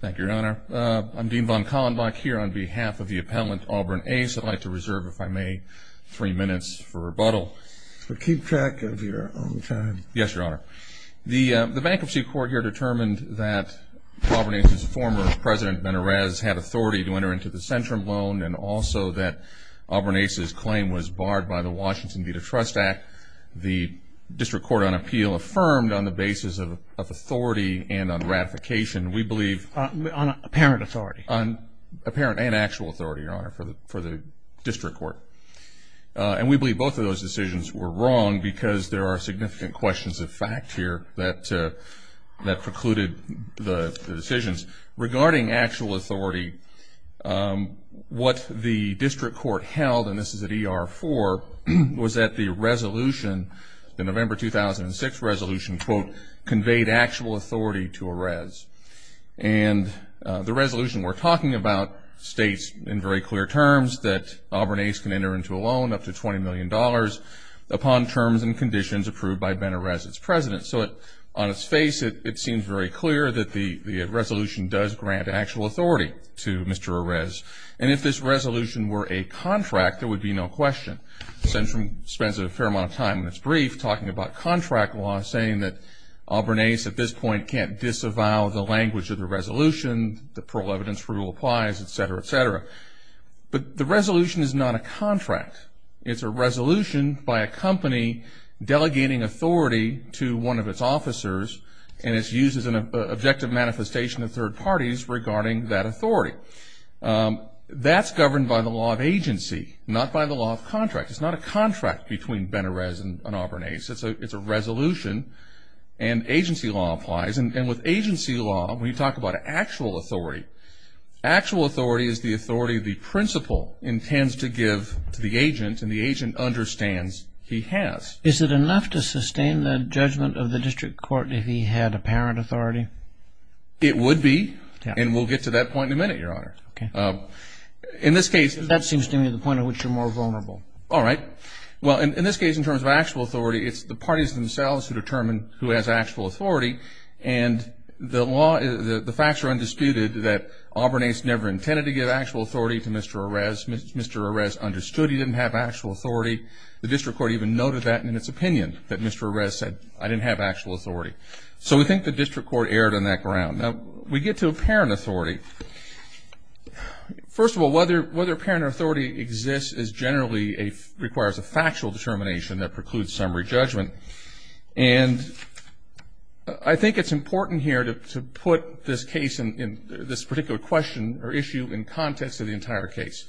Thank you, Your Honor. I'm Dean von Kallenbach here on behalf of the appellant Auburn Ace. I'd like to reserve, if I may, three minutes for rebuttal. Keep track of your own time. Yes, Your Honor. The bankruptcy court here determined that Auburn Ace's former president, Ben-Horaz, had authority to enter into the Centrum loan and also that Auburn Ace's claim was barred by the Washington Data Trust Act. The District Court on Appeal affirmed on the application, we believe... On apparent authority. On apparent and actual authority, Your Honor, for the District Court. And we believe both of those decisions were wrong because there are significant questions of fact here that precluded the decisions. Regarding actual authority, what the District Court held, and this is at ER 4, was that the resolution, the November 2006 resolution, quote, gave actual authority to Horaz. And the resolution we're talking about states in very clear terms that Auburn Ace can enter into a loan up to $20 million upon terms and conditions approved by Ben-Horaz, its president. So on its face, it seems very clear that the resolution does grant actual authority to Mr. Horaz. And if this resolution were a contract, there would be no question. Centrum spends a fair amount of time in its brief talking about contract law saying that Auburn Ace at this point can't disavow the language of the resolution, the parole evidence rule applies, et cetera, et cetera. But the resolution is not a contract. It's a resolution by a company delegating authority to one of its officers, and it's used as an objective manifestation of third parties regarding that authority. That's governed by the law of agency, not by the law of contract. It's not a contract between Ben-Horaz and Auburn Ace. It's a resolution, and agency law applies. And with agency law, when you talk about actual authority, actual authority is the authority the principal intends to give to the agent, and the agent understands he has. Is it enough to sustain the judgment of the district court if he had apparent authority? It would be, and we'll get to that point in a minute, Your Honor. Okay. In this case... That seems to me the point at which you're more vulnerable. All right. Well, in this case, in terms of actual authority, it's the parties themselves who determine who has actual authority, and the facts are undisputed that Auburn Ace never intended to give actual authority to Mr. Horaz. Mr. Horaz understood he didn't have actual authority. The district court even noted that in its opinion, that Mr. Horaz said, I didn't have actual authority. So we think the district court erred on that ground. Now, we get to apparent authority. First of all, whether apparent authority exists is generally a... requires a factual determination that precludes summary judgment, and I think it's important here to put this case, this particular question or issue in context of the entire case.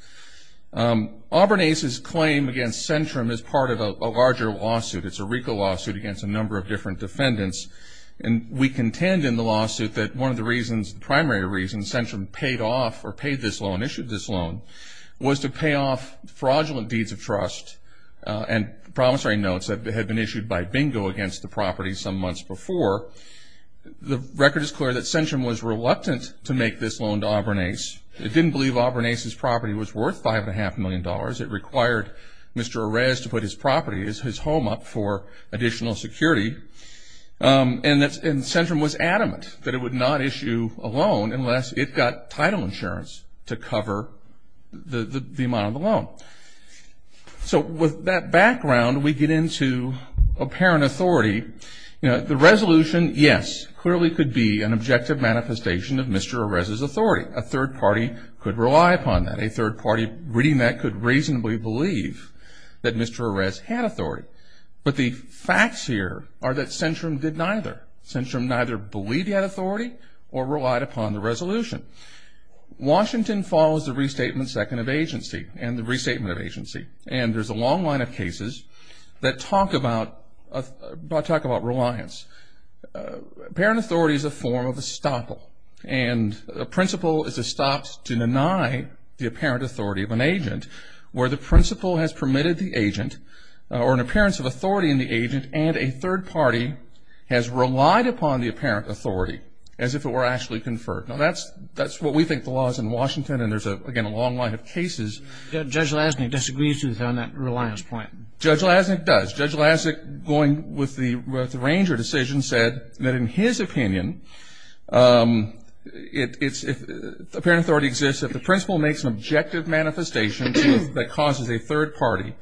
Auburn Ace's claim against Centrum is part of a larger lawsuit. It's a RICO lawsuit against a number of different defendants, and we contend in the lawsuit that one of the reasons, the primary reason Centrum paid off or paid this loan, issued this loan, was to pay off fraudulent deeds of trust and promissory notes that had been issued by bingo against the property some months before. The record is clear that Centrum was reluctant to make this loan to Auburn Ace. It didn't believe Auburn Ace's property was worth $5.5 million. It required Mr. Horaz to put his property, his home up for additional security, and Centrum was adamant that it would not issue a loan unless it got title insurance to cover the amount of the loan. So with that background, we get into apparent authority. You know, the resolution, yes, clearly could be an objective manifestation of Mr. Horaz's authority. A third party could rely upon that. A third party reading that could reasonably believe that Mr. Horaz had authority. But the facts here are that Centrum did neither. Centrum neither believed he had authority or relied upon the resolution. Washington follows the restatement second of agency and the restatement of agency. And there's a long line of cases that talk about reliance. Apparent authority is a form of estoppel. And a principle is estopped to deny the apparent authority of an agent where the appearance of authority in the agent and a third party has relied upon the apparent authority as if it were actually conferred. Now, that's what we think the law is in Washington. And there's, again, a long line of cases. Judge Lasnik disagrees with that on that reliance point. Judge Lasnik does. Judge Lasnik, going with the Ranger decision, said that in his opinion, apparent authority exists if the principle makes an objective manifestation that causes a third party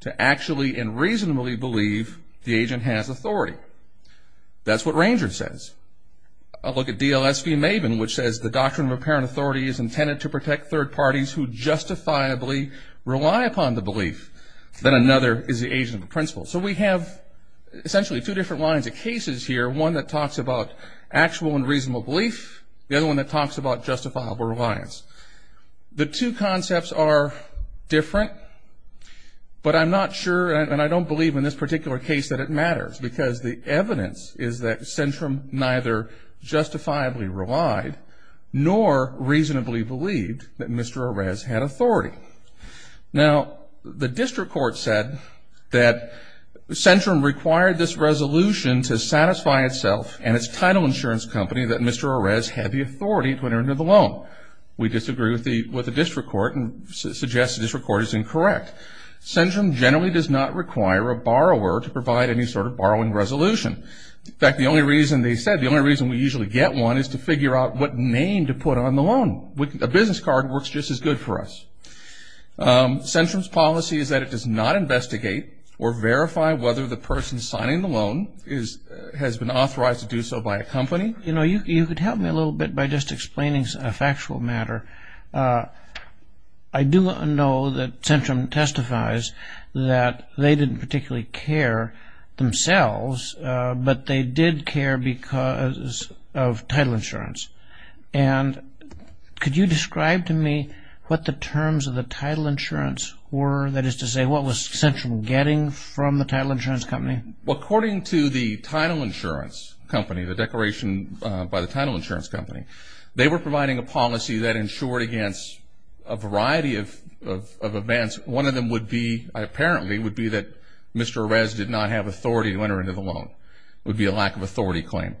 to actually and reasonably believe the agent has authority. That's what Ranger says. I'll look at DLS v. Maven, which says the doctrine of apparent authority is intended to protect third parties who justifiably rely upon the belief that another is the agent of the principle. So, we have essentially two different lines of cases here. One that talks about actual and reasonable belief. The other one that talks about justifiable reliance. The two concepts are different, but I'm not sure and I don't believe in this particular case that it matters because the evidence is that Centrum neither justifiably relied nor reasonably believed that Mr. Arez had authority. Now, the district court said that Centrum required this resolution to satisfy itself and its title insurance company that Mr. Arez had the authority to enter into the loan. We disagree with the district court and suggest the district court is incorrect. Centrum generally does not require a borrower to provide any sort of borrowing resolution. In fact, the only reason they said, the only reason we usually get one is to figure out what name to put on the loan. A business card works just as good for us. Centrum's policy is that it does not investigate or verify whether the person signing the loan has been authorized to do so by a company. You know, you could help me a little bit by just explaining a factual matter. I do know that Centrum testifies that they didn't particularly care themselves, but they did care because of title insurance. And could you describe to me what the terms of the title insurance were? That is to say, what was Centrum getting from the title insurance company? Well, according to the title insurance company, the declaration by the title insurance company, they were providing a policy that insured against a variety of events. One of them would be, apparently, would be that Mr. Arez did not have authority to enter into the loan. It would be a lack of authority claim.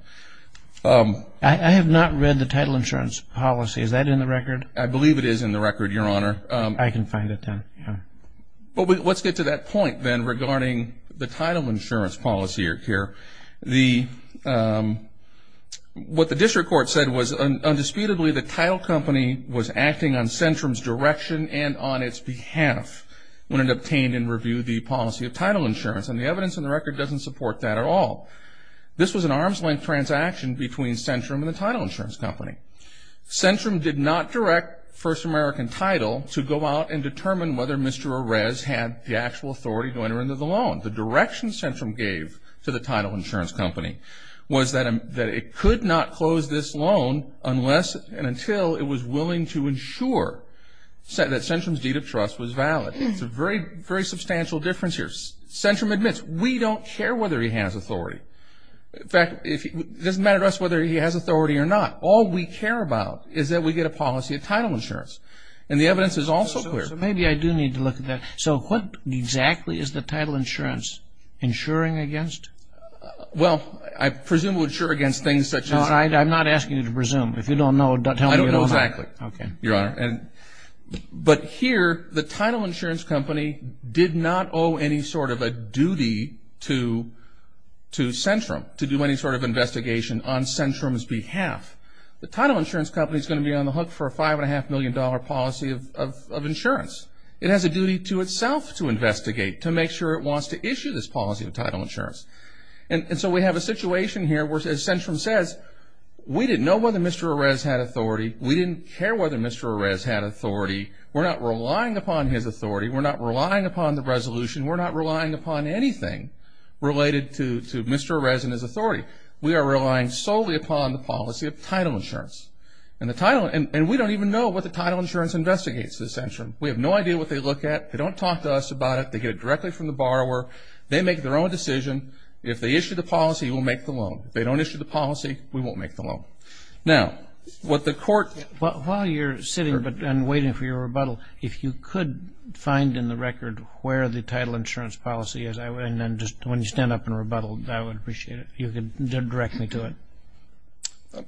I have not read the title insurance policy. Is that in the record? I believe it is in the record, Your Honor. I can find it then, yeah. But let's get to that point then regarding the title insurance policy here. What the district court said was, undisputedly, the title company was acting on Centrum's direction and on its behalf when it obtained and reviewed the policy of title insurance. And the evidence in the record doesn't support that at all. This was an arm's-length transaction between Centrum and the title insurance company. Centrum did not direct First American Title to go out and determine whether Mr. Arez had the actual authority to enter into the loan. The direction Centrum gave to the title insurance company was that it could not close this loan unless and until it was willing to ensure that Centrum's deed of trust was valid. It's a very, very substantial difference here. Centrum admits, we don't care whether he has authority. In fact, it doesn't matter to us whether he has authority or not. All we care about is that we get a policy of title insurance. And the evidence is also clear. So maybe I do need to look at that. So what exactly is the title insurance insuring against? Well, I presume it would insure against things such as... No, I'm not asking you to presume. If you don't know, tell me what you don't know. I don't know exactly, Your Honor. But here, the title insurance company did not owe any sort of a duty to Centrum to do any sort of investigation on Centrum's behalf. The title insurance company is going to be on the hook for a $5.5 million policy of insurance. It has a duty to itself to investigate, to make sure it wants to issue this policy of title insurance. And so we have a situation here where, as Centrum says, we didn't know whether Mr. Arez had authority. We didn't care whether Mr. Arez had authority. We're not relying upon his authority. We're not relying upon the resolution. We're not relying upon anything related to Mr. Arez and his authority. We are relying solely upon the policy of title insurance. And the title... And we don't even know what the title insurance investigates at Centrum. We have no idea what they look at. They don't talk to us about it. They get it directly from the borrower. They make their own decision. If they issue the policy, we'll make the loan. If they don't issue the policy, we won't make the loan. Now, what the court... But while you're sitting and waiting for your rebuttal, if you could find in the record where the title insurance policy is, and then just when you stand up and rebuttal, I would appreciate it. You can direct me to it.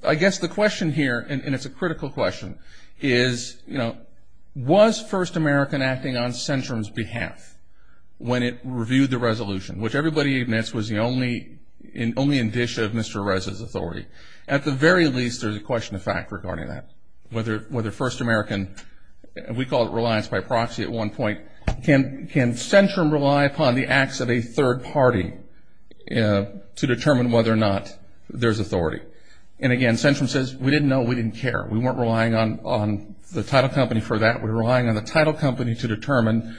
I guess the question here, and it's a critical question, is, you know, was First American acting on Centrum's behalf when it reviewed the resolution, which everybody admits was the only indicia of Mr. Arez's authority? At the very least, there's a question of fact regarding that. Whether First American, we call it reliance by proxy at one point, can Centrum rely upon the acts of a third party to determine whether or not Mr. Arez had authority? And again, Centrum says, we didn't know. We didn't care. We weren't relying on the title company for that. We were relying on the title company to determine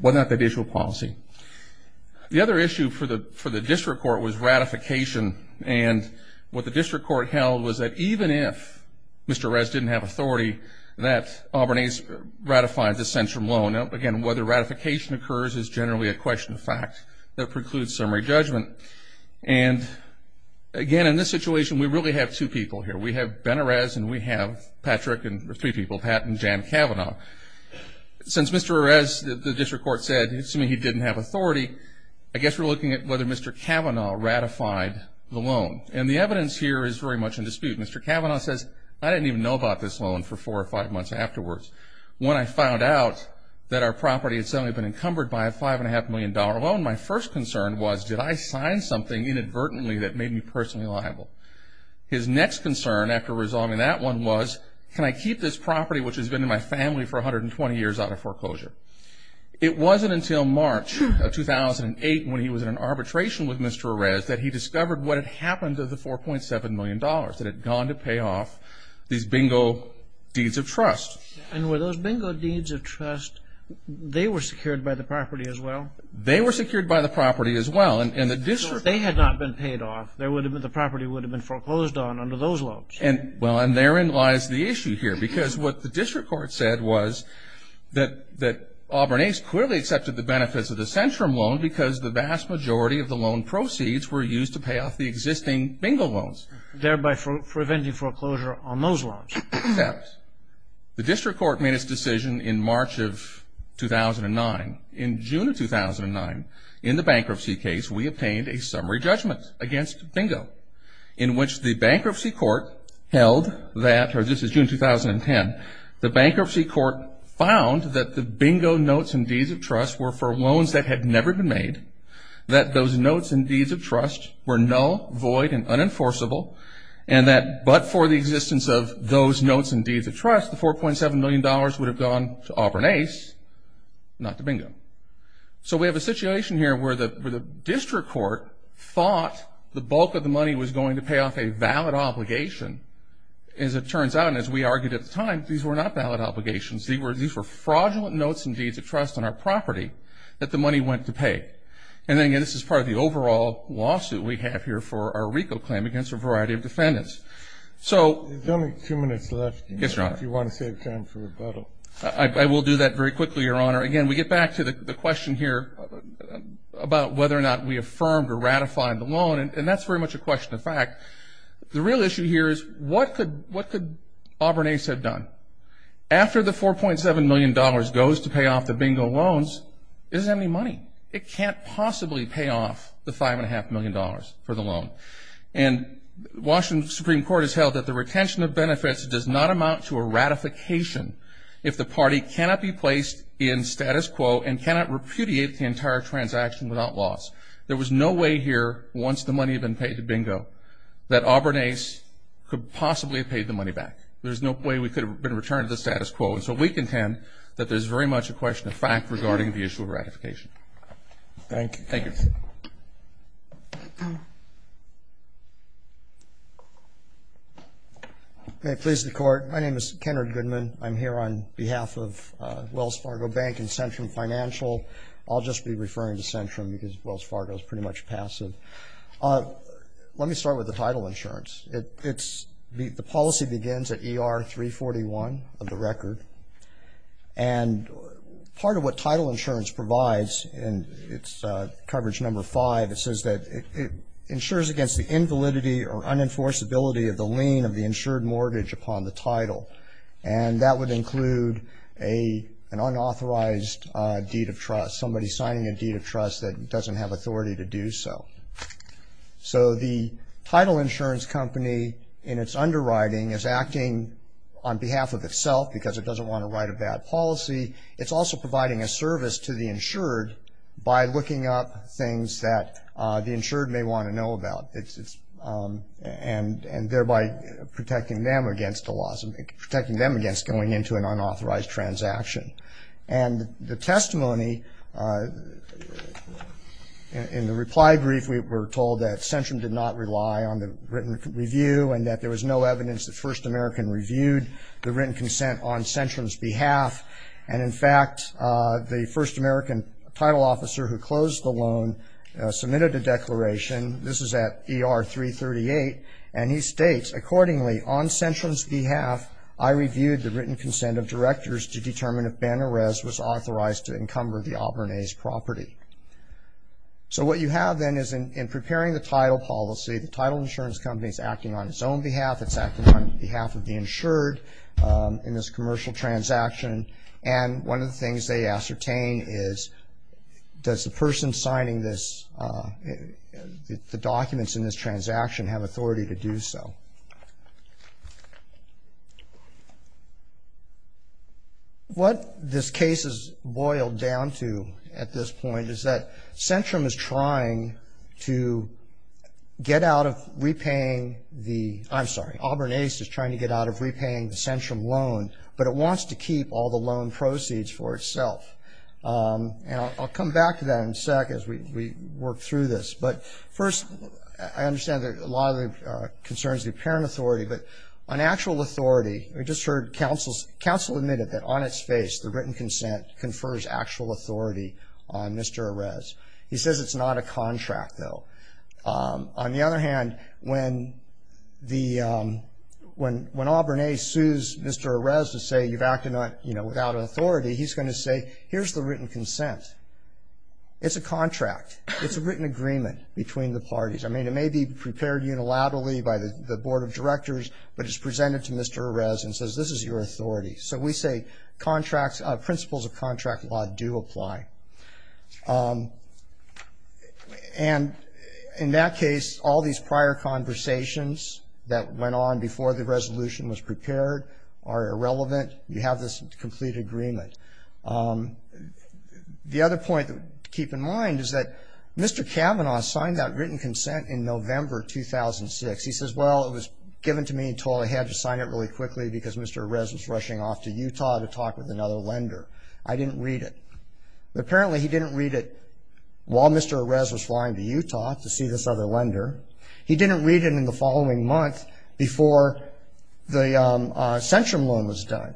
whether or not they'd issue a policy. The other issue for the district court was ratification. And what the district court held was that even if Mr. Arez didn't have authority, that Albernese ratified the Centrum loan. Now, again, whether ratification occurs is generally a question of fact. That precludes summary judgment. And again, in this situation, we really have two people here. We have Ben Arez, and we have Patrick, and there's three people, Pat and Jan Cavanaugh. Since Mr. Arez, the district court said, assuming he didn't have authority, I guess we're looking at whether Mr. Cavanaugh ratified the loan. And the evidence here is very much in dispute. Mr. Cavanaugh says, I didn't even know about this loan for four or five months afterwards. When I found out that our property had suddenly been encumbered by a $5.5 million loan, my first concern was, did I sign something inadvertently that made me personally liable? His next concern, after resolving that one, was, can I keep this property, which has been in my family for 120 years, out of foreclosure? It wasn't until March of 2008, when he was in an arbitration with Mr. Arez, that he discovered what had happened to the $4.7 million that had gone to pay off these bingo deeds of trust. And were those bingo deeds of trust, they were secured by the property as well? They were secured by the property as well, and the district- So if they had not been paid off, the property would have been foreclosed on under those loans. Well, and therein lies the issue here, because what the district court said was that Auburn Ace clearly accepted the benefits of the Centrum loan because the vast majority of the loan proceeds were used to pay off the existing bingo loans. Thereby preventing foreclosure on those loans. Except, the district court made its decision in March of 2009. In June of 2009, in the bankruptcy case, we obtained a summary judgment against bingo. In which the bankruptcy court held that, or this is June 2010, the bankruptcy court found that the bingo notes and deeds of trust were for loans that had never been made. That those notes and deeds of trust were null, void, and unenforceable. And that, but for the existence of those notes and deeds of trust, the $4.7 million would have gone to Auburn Ace, not to bingo. So we have a situation here where the district court thought the bulk of the money was going to pay off a valid obligation. As it turns out, and as we argued at the time, these were not valid obligations. These were fraudulent notes and deeds of trust on our property that the money went to pay. And then again, this is part of the overall lawsuit we have here for our recall claim against a variety of defendants. So- There's only two minutes left. Yes, Your Honor. If you want to save time for rebuttal. I will do that very quickly, Your Honor. Again, we get back to the question here about whether or not we affirmed or ratified the loan, and that's very much a question of fact. The real issue here is, what could Auburn Ace have done? After the $4.7 million goes to pay off the bingo loans, is there any money? It can't possibly pay off the $5.5 million for the loan. And Washington Supreme Court has held that the retention of benefits does not amount to a ratification if the party cannot be placed in status quo and cannot repudiate the entire transaction without loss. There was no way here, once the money had been paid to bingo, that Auburn Ace could possibly have paid the money back. There's no way we could have been returned to the status quo. And so we contend that there's very much a question of fact regarding the issue of Thank you. Thank you. May it please the Court, my name is Kennard Goodman. I'm here on behalf of Wells Fargo Bank and Centrum Financial. I'll just be referring to Centrum because Wells Fargo is pretty much passive. Let me start with the title insurance. The policy begins at ER 341 of the record. And part of what title insurance provides, and it's coverage number five. It says that it insures against the invalidity or unenforceability of the lien of the insured mortgage upon the title. And that would include an unauthorized deed of trust, somebody signing a deed of trust that doesn't have authority to do so. On behalf of itself, because it doesn't want to write a bad policy. It's also providing a service to the insured by looking up things that the insured may want to know about. And thereby protecting them against going into an unauthorized transaction. And the testimony, in the reply brief, we were told that Centrum did not rely on the written review and that there was no evidence that First American reviewed the written consent on Centrum's behalf. And in fact, the First American title officer who closed the loan submitted a declaration, this is at ER 338, and he states, accordingly, on Centrum's behalf, I reviewed the written consent of directors to determine if Banner Rez was authorized to encumber the Auburn A's property. So what you have then is in preparing the title policy, the title insurance company is acting on its own behalf. It's acting on behalf of the insured in this commercial transaction. And one of the things they ascertain is, does the person signing this, the documents in this transaction, have authority to do so? What this case is boiled down to at this point is that Centrum is trying to get out of repaying the, I'm sorry, Auburn A's is trying to get out of repaying the Centrum loan, but it wants to keep all the loan proceeds for itself. And I'll come back to that in a sec as we work through this. But first, I understand that a lot of the concern is the apparent authority. But on actual authority, we just heard counsel admitted that on its face, the written consent confers actual authority on Mr. Rez. He says it's not a contract, though. On the other hand, when Auburn A sues Mr. Rez to say you've acted without authority, he's going to say, here's the written consent. It's a contract. It's a written agreement between the parties. I mean, it may be prepared unilaterally by the board of directors, but it's presented to Mr. Rez and says, this is your authority. So we say, principles of contract law do apply. And in that case, all these prior conversations that went on before the resolution was prepared are irrelevant. You have this complete agreement. The other point to keep in mind is that Mr. Kavanaugh signed that written consent in November 2006. He says, well, it was given to me and told I had to sign it really quickly, because Mr. Rez was rushing off to Utah to talk with another lender. I didn't read it. Apparently, he didn't read it while Mr. Rez was flying to Utah to see this other lender. He didn't read it in the following month before the centrum loan was done.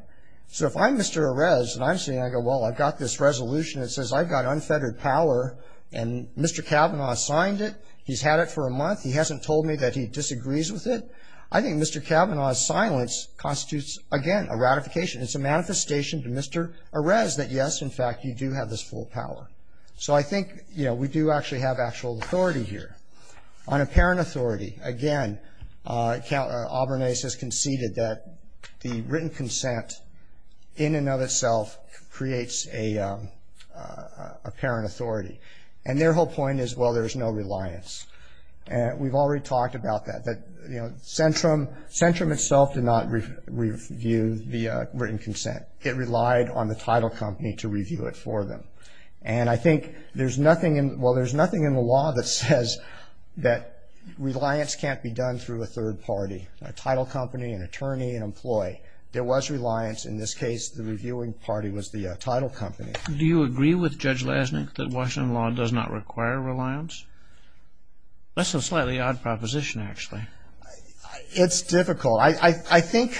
So if I'm Mr. Rez and I'm saying, well, I've got this resolution that says I've got unfettered power and Mr. Kavanaugh signed it, he's had it for a month. He hasn't told me that he disagrees with it. I think Mr. Kavanaugh's silence constitutes, again, a ratification. It's a manifestation to Mr. Rez that, yes, in fact, you do have this full power. So I think we do actually have actual authority here on apparent authority. Again, Count Auburnace has conceded that the written consent in and of itself creates a apparent authority. And their whole point is, well, there's no reliance. And we've already talked about that, that centrum itself did not review the written consent. It relied on the title company to review it for them. And I think there's nothing in the law that says that reliance can't be done through a third party, a title company, an attorney, an employee. There was reliance. In this case, the reviewing party was the title company. Do you agree with Judge Lesnik that Washington law does not require reliance? That's a slightly odd proposition, actually. It's difficult. I think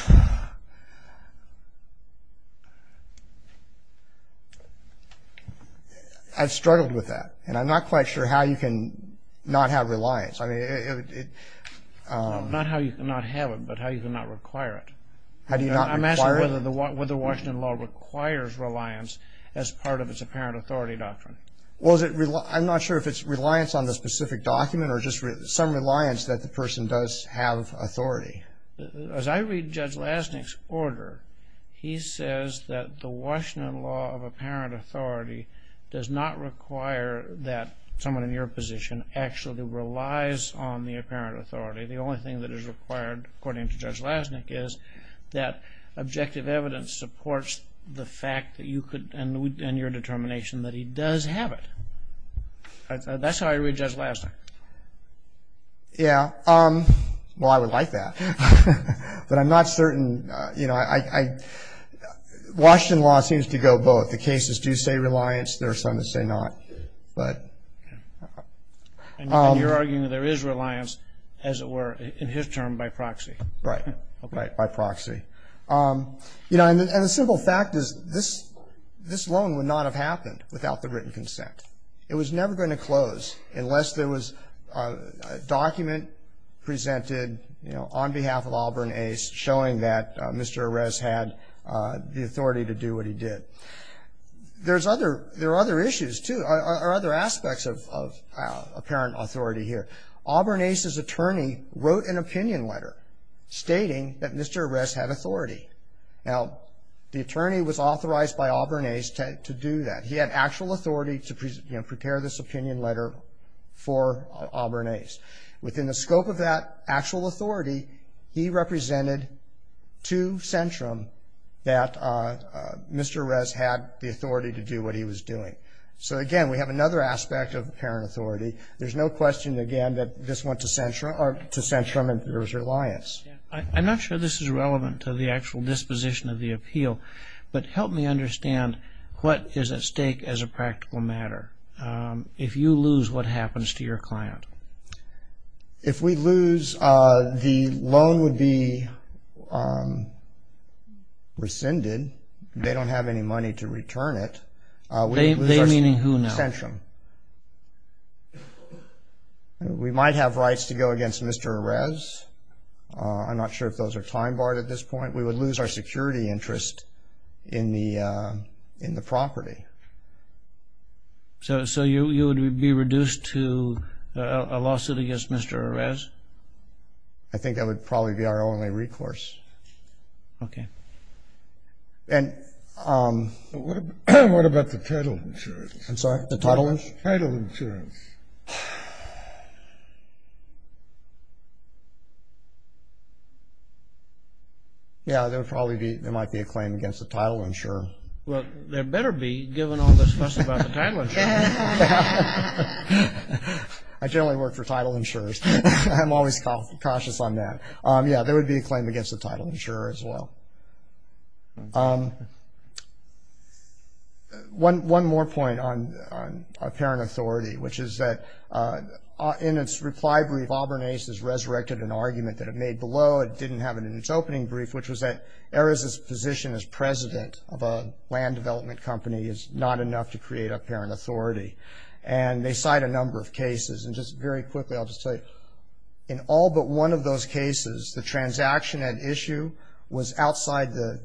I've struggled with that. And I'm not quite sure how you can not have reliance. I mean, it- Not how you can not have it, but how you can not require it. How do you not require it? I'm asking whether the Washington law requires reliance as part of its apparent authority doctrine. Well, I'm not sure if it's reliance on the specific document or just some reliance that the person does have authority. As I read Judge Lesnik's order, he says that the Washington law of apparent authority does not require that someone in your position actually relies on the apparent authority. The only thing that is required, according to Judge Lesnik, is that objective evidence supports the fact that you could, and your determination that he does have it. That's how I read Judge Lesnik. Yeah, well, I would like that, but I'm not certain. Washington law seems to go both. The cases do say reliance. There are some that say not, but- And you're arguing that there is reliance, as it were, in his term, by proxy. Right, right, by proxy. And the simple fact is this loan would not have happened without the written consent. It was never going to close unless there was a document presented on behalf of Auburn Ace showing that Mr. Arrest had the authority to do what he did. There are other issues, too, or other aspects of apparent authority here. Auburn Ace's attorney wrote an opinion letter stating that Mr. Arrest had authority. Now, the attorney was authorized by Auburn Ace to do that. He had actual authority to prepare this opinion letter for Auburn Ace. Within the scope of that actual authority, he represented to Centrum that Mr. Arrest had the authority to do what he was doing. So, again, we have another aspect of apparent authority. There's no question, again, that this went to Centrum and there was reliance. I'm not sure this is relevant to the actual disposition of the appeal, but help me understand what is at stake as a practical matter. If you lose, what happens to your client? If we lose, the loan would be rescinded. They don't have any money to return it. They meaning who now? Centrum. We might have rights to go against Mr. Arrest. I'm not sure if those are time-barred at this point. We would lose our security interest in the property. So you would be reduced to a lawsuit against Mr. Arrest? I think that would probably be our only recourse. Okay. And what about the title insurance? I'm sorry, the title insurance? Title insurance. Yeah, there would probably be, there might be a claim against the title insurer. Well, there better be, given all this fuss about the title insurer. I generally work for title insurers. I'm always cautious on that. Yeah, there would be a claim against the title insurer as well. One more point on apparent authority, which is that in its reply brief, Auburn Ace has resurrected an argument that it made below. It didn't have it in its opening brief, which was that Ares' position as president of a land development company is not enough to create apparent authority. And they cite a number of cases. And just very quickly, I'll just tell you, in all but one of those cases, the transaction at issue was outside the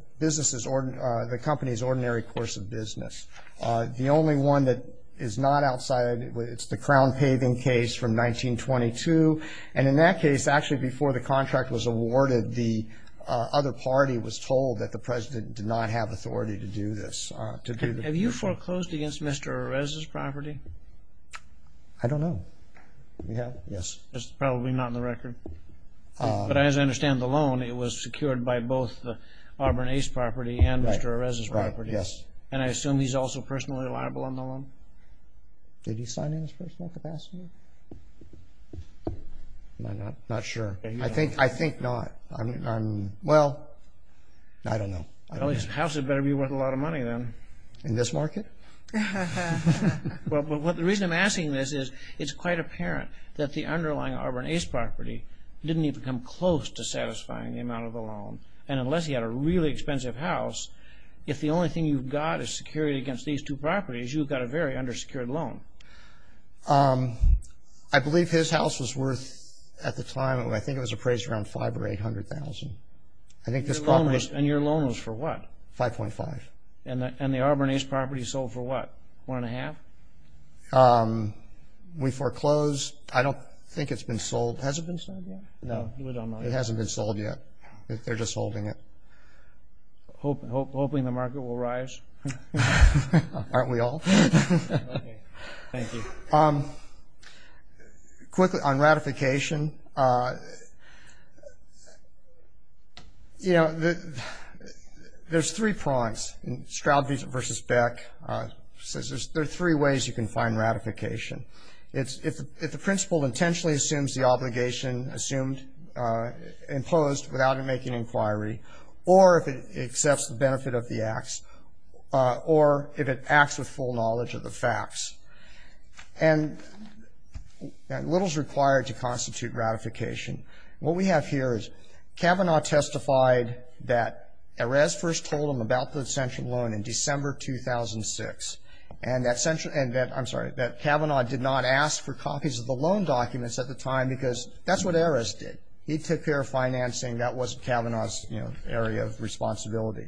company's ordinary course of business. The only one that is not outside, it's the crown paving case from 1922. And in that case, actually before the contract was awarded, the other party was told that the president did not have authority to do this. Have you foreclosed against Mr. Ares' property? I don't know. We have, yes. It's probably not in the record. But as I understand the loan, it was secured by both the Auburn Ace property and Mr. Ares' property. Yes. And I assume he's also personally liable on the loan? Did he sign in his personal capacity? I'm not sure. I think not. I'm, well, I don't know. Well, his house had better be worth a lot of money then. In this market? Well, the reason I'm asking this is it's quite apparent that the underlying Auburn Ace property didn't even come close to satisfying the amount of the loan. And unless he had a really expensive house, if the only thing you've got is security against these two properties, you've got a very undersecured loan. I believe his house was worth, at the time, I think it was appraised around $500,000 or $800,000. I think this property was... And your loan was for what? $5.5. And the Auburn Ace property sold for what? One and a half? We foreclosed. I don't think it's been sold. Has it been sold yet? No, we don't know. It hasn't been sold yet. They're just holding it. Hoping the market will rise? Aren't we all? Okay. Thank you. Quickly, on ratification, you know, there's three prongs. Strauby versus Beck says there's three ways you can find ratification. If the principal intentionally assumes the obligation imposed without him making an inquiry, or if it accepts the benefit of the acts, or if it acts with full knowledge of the facts. And little is required to constitute ratification. What we have here is Kavanaugh testified that Erez first told him about the central loan in December 2006. And that central... And that, I'm sorry, that Kavanaugh did not ask for copies of the loan documents at the time because that's what Erez did. He took care of financing. That was Kavanaugh's, you know, area of responsibility.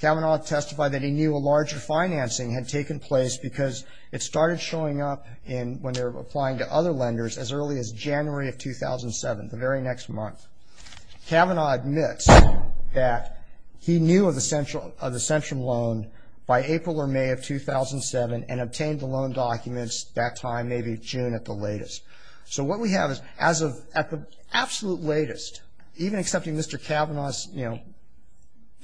Kavanaugh testified that he knew a larger financing had taken place because it started showing up when they were applying to other lenders as early as January of 2007, the very next month. Kavanaugh admits that he knew of the central loan by April or May of 2007 and obtained the loan documents that time, maybe June at the latest. So what we have is as of at the absolute latest, even accepting Mr. Kavanaugh's, you know,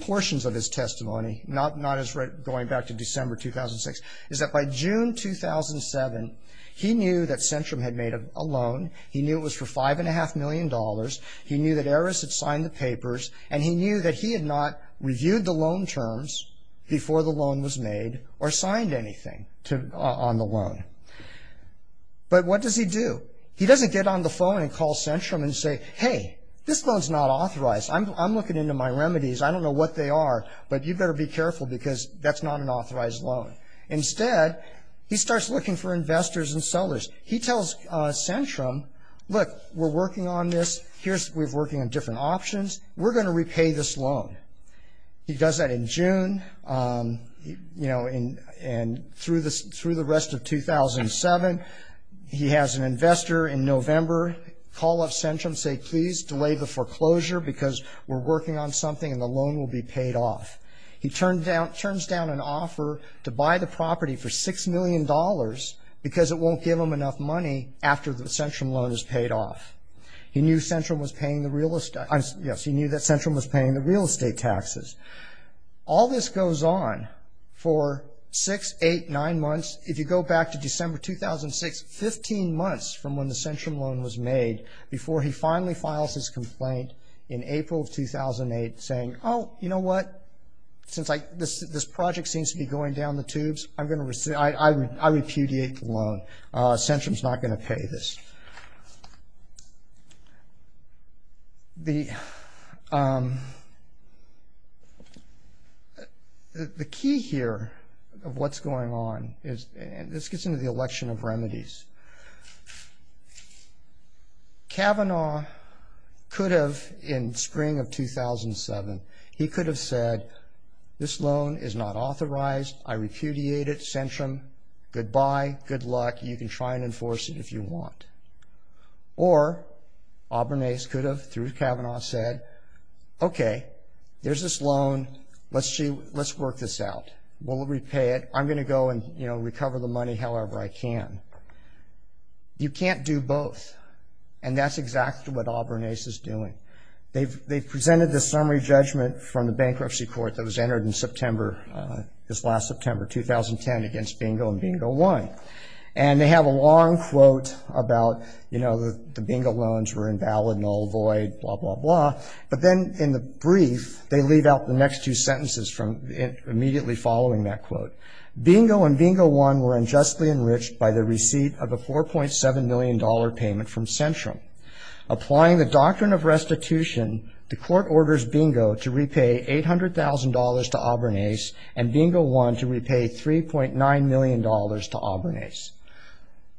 portions of his testimony, not as going back to December 2006, is that by June 2007, he knew that Centrum had made a loan. He knew it was for $5.5 million. He knew that Erez had signed the papers. And he knew that he had not reviewed the loan terms before the loan was made or signed anything on the loan. But what does he do? He doesn't get on the phone and call Centrum and say, hey, this loan's not authorized. I'm looking into my remedies. I don't know what they are, but you better be careful because that's not an authorized loan. Instead, he starts looking for investors and sellers. He tells Centrum, look, we're working on this. Here's, we're working on different options. We're going to repay this loan. He does that in June, you know, and through the rest of 2007, he has an investor in November call up Centrum, say please delay the foreclosure because we're working on something and the loan will be paid off. He turns down an offer to buy the property for $6 million because it won't give him enough money after the Centrum loan is paid off. He knew Centrum was paying the real estate, yes, he knew that Centrum was paying the real estate taxes. All this goes on for six, eight, nine months. If you go back to December 2006, 15 months from when the Centrum loan was made before he finally files his complaint in April of 2008 saying, oh, you know what, since this project seems to be going down the tubes, I'm going to, I repudiate the loan. Centrum's not going to pay this. The key here of what's going on is, and this gets into the election of remedies. Kavanaugh could have, in spring of 2007, he could have said, this loan is not authorized, I repudiate it, Centrum, goodbye, good luck, you can try and enforce it if you want. Or, Auburnace could have, through Kavanaugh, said, okay, there's this loan, let's work this out, we'll repay it, I'm going to go and, you know, recover the money however I can. You can't do both, and that's exactly what Auburnace is doing. They've presented this summary judgment from the bankruptcy court that was entered in September, this last September, 2010, against Bingo and Bingo 1. And they have a long quote about, you know, the Bingo loans were invalid, null, void, blah, blah, blah. But then in the brief, they leave out the next two sentences from immediately following that quote. Bingo and Bingo 1 were unjustly enriched by the receipt of a $4.7 million payment from Centrum. Applying the doctrine of restitution, the court orders Bingo to repay $800,000 to Auburnace, and Bingo 1 to repay $3.9 million to Auburnace.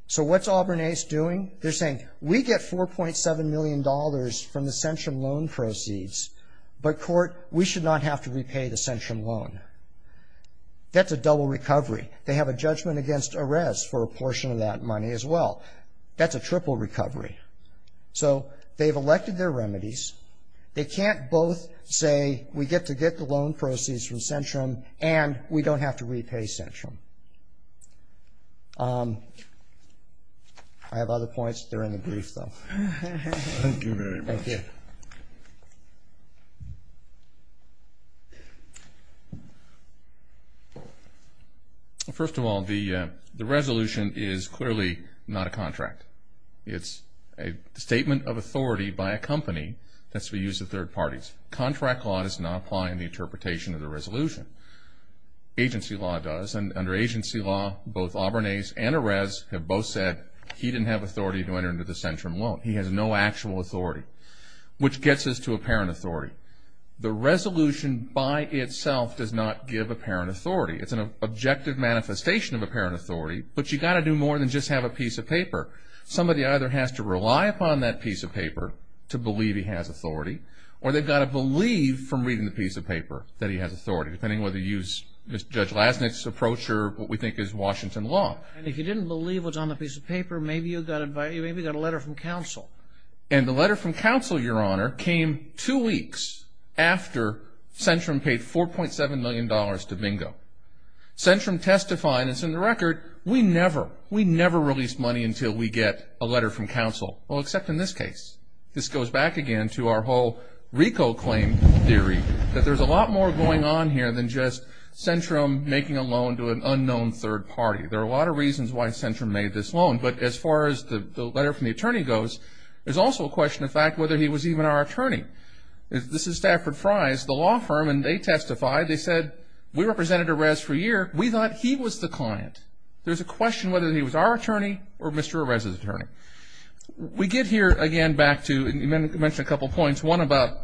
So what's Auburnace doing? They're saying, we get $4.7 million from the Centrum loan proceeds, but court, we should not have to repay the Centrum loan. That's a double recovery. They have a judgment against arrest for a portion of that money as well. That's a triple recovery. So they've elected their remedies. They can't both say, we get to get the loan proceeds from Centrum, and we don't have to repay Centrum. I have other points. They're in the brief, though. Thank you very much. Thank you. First of all, the resolution is clearly not a contract. It's a statement of authority by a company that's to be used by third parties. Contract law does not apply in the interpretation of the resolution. Agency law does, and under agency law, both Auburnace and Arres have both said he didn't have authority to enter into the Centrum loan. He has no actual authority, which gets us to apparent authority. The resolution by itself does not give apparent authority. It's an objective manifestation of apparent authority, but you've got to do more than just have a piece of paper. Somebody either has to rely upon that piece of paper to believe he has authority, or they've got to believe from reading the piece of paper that he has authority, depending whether you use Judge Lasnik's approach or what we think is Washington law. And if you didn't believe what's on the piece of paper, maybe you got a letter from counsel. And the letter from counsel, Your Honor, came two weeks after Centrum paid $4.7 million to Bingo. Centrum testified, and it's in the record, we never, we never released money until we get a letter from counsel, well, except in this case. This goes back again to our whole RICO claim theory, that there's a lot more going on here than just Centrum making a loan to an unknown third party. There are a lot of reasons why Centrum made this loan, but as far as the letter from the attorney goes, there's also a question of fact whether he was even our attorney. This is Stafford Fry's, the law firm, and they testified. They said, we represented Erez for a year. We thought he was the client. There's a question whether he was our attorney or Mr. Erez's attorney. We get here again back to, and you mentioned a couple points, one about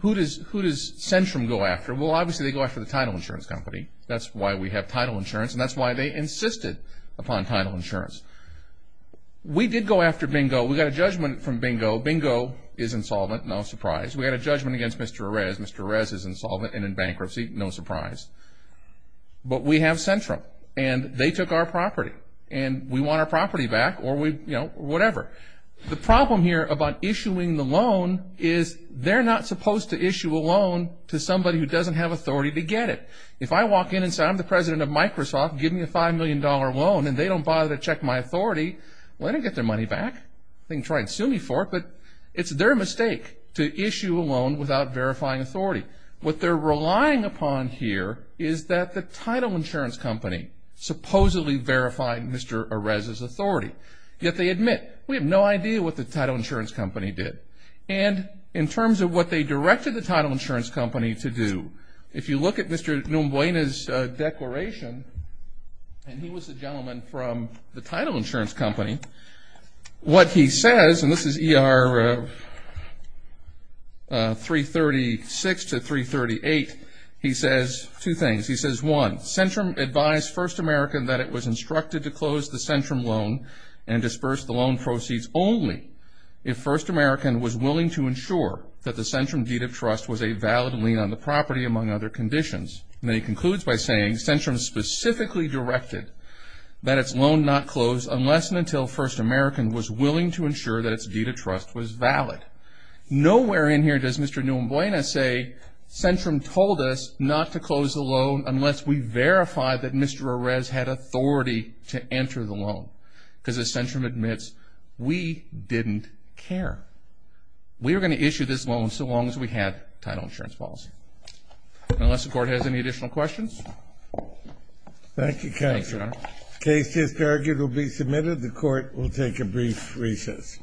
who does Centrum go after? Well, obviously, they go after the title insurance company. That's why we have title insurance, and that's why they insisted upon title insurance. We did go after Bingo. We got a judgment from Bingo. Bingo is insolvent, no surprise. We had a judgment against Mr. Erez. Mr. Erez is insolvent and in bankruptcy, no surprise. But we have Centrum, and they took our property, and we want our property back, or we, you know, whatever. The problem here about issuing the loan is they're not supposed to issue a loan to somebody who doesn't have authority to get it. If I walk in and say, I'm the president of Microsoft, give me a $5 million loan, and they don't bother to check my authority, well, they don't get their money back. They can try and sue me for it, but it's their mistake to issue a loan without verifying authority. What they're relying upon here is that the title insurance company supposedly verified Mr. Erez's authority, yet they admit, we have no idea what the title insurance company did. And in terms of what they directed the title insurance company to do, if you look at Mr. Numbuena's declaration, and he was the gentleman from the title insurance company, what he says, and this is ER 336 to 338, he says two things. He says, one, Centrum advised First American that it was instructed to close the Centrum loan and disperse the loan proceeds only if First American was willing to ensure that the Centrum deed of trust was a valid lien on the property, among other conditions. And then he concludes by saying, Centrum specifically directed that its loan not close unless and until First American was willing to ensure that its deed of trust was valid. Nowhere in here does Mr. Numbuena say, Centrum told us not to close the loan unless we verify that Mr. Erez had authority to enter the loan, because as Centrum admits, we didn't care. We were going to issue this loan so long as we had title insurance policy. Unless the court has any additional questions. Thank you, counsel. Thanks, Your Honor. Case is targeted to be submitted. The court will take a brief recess.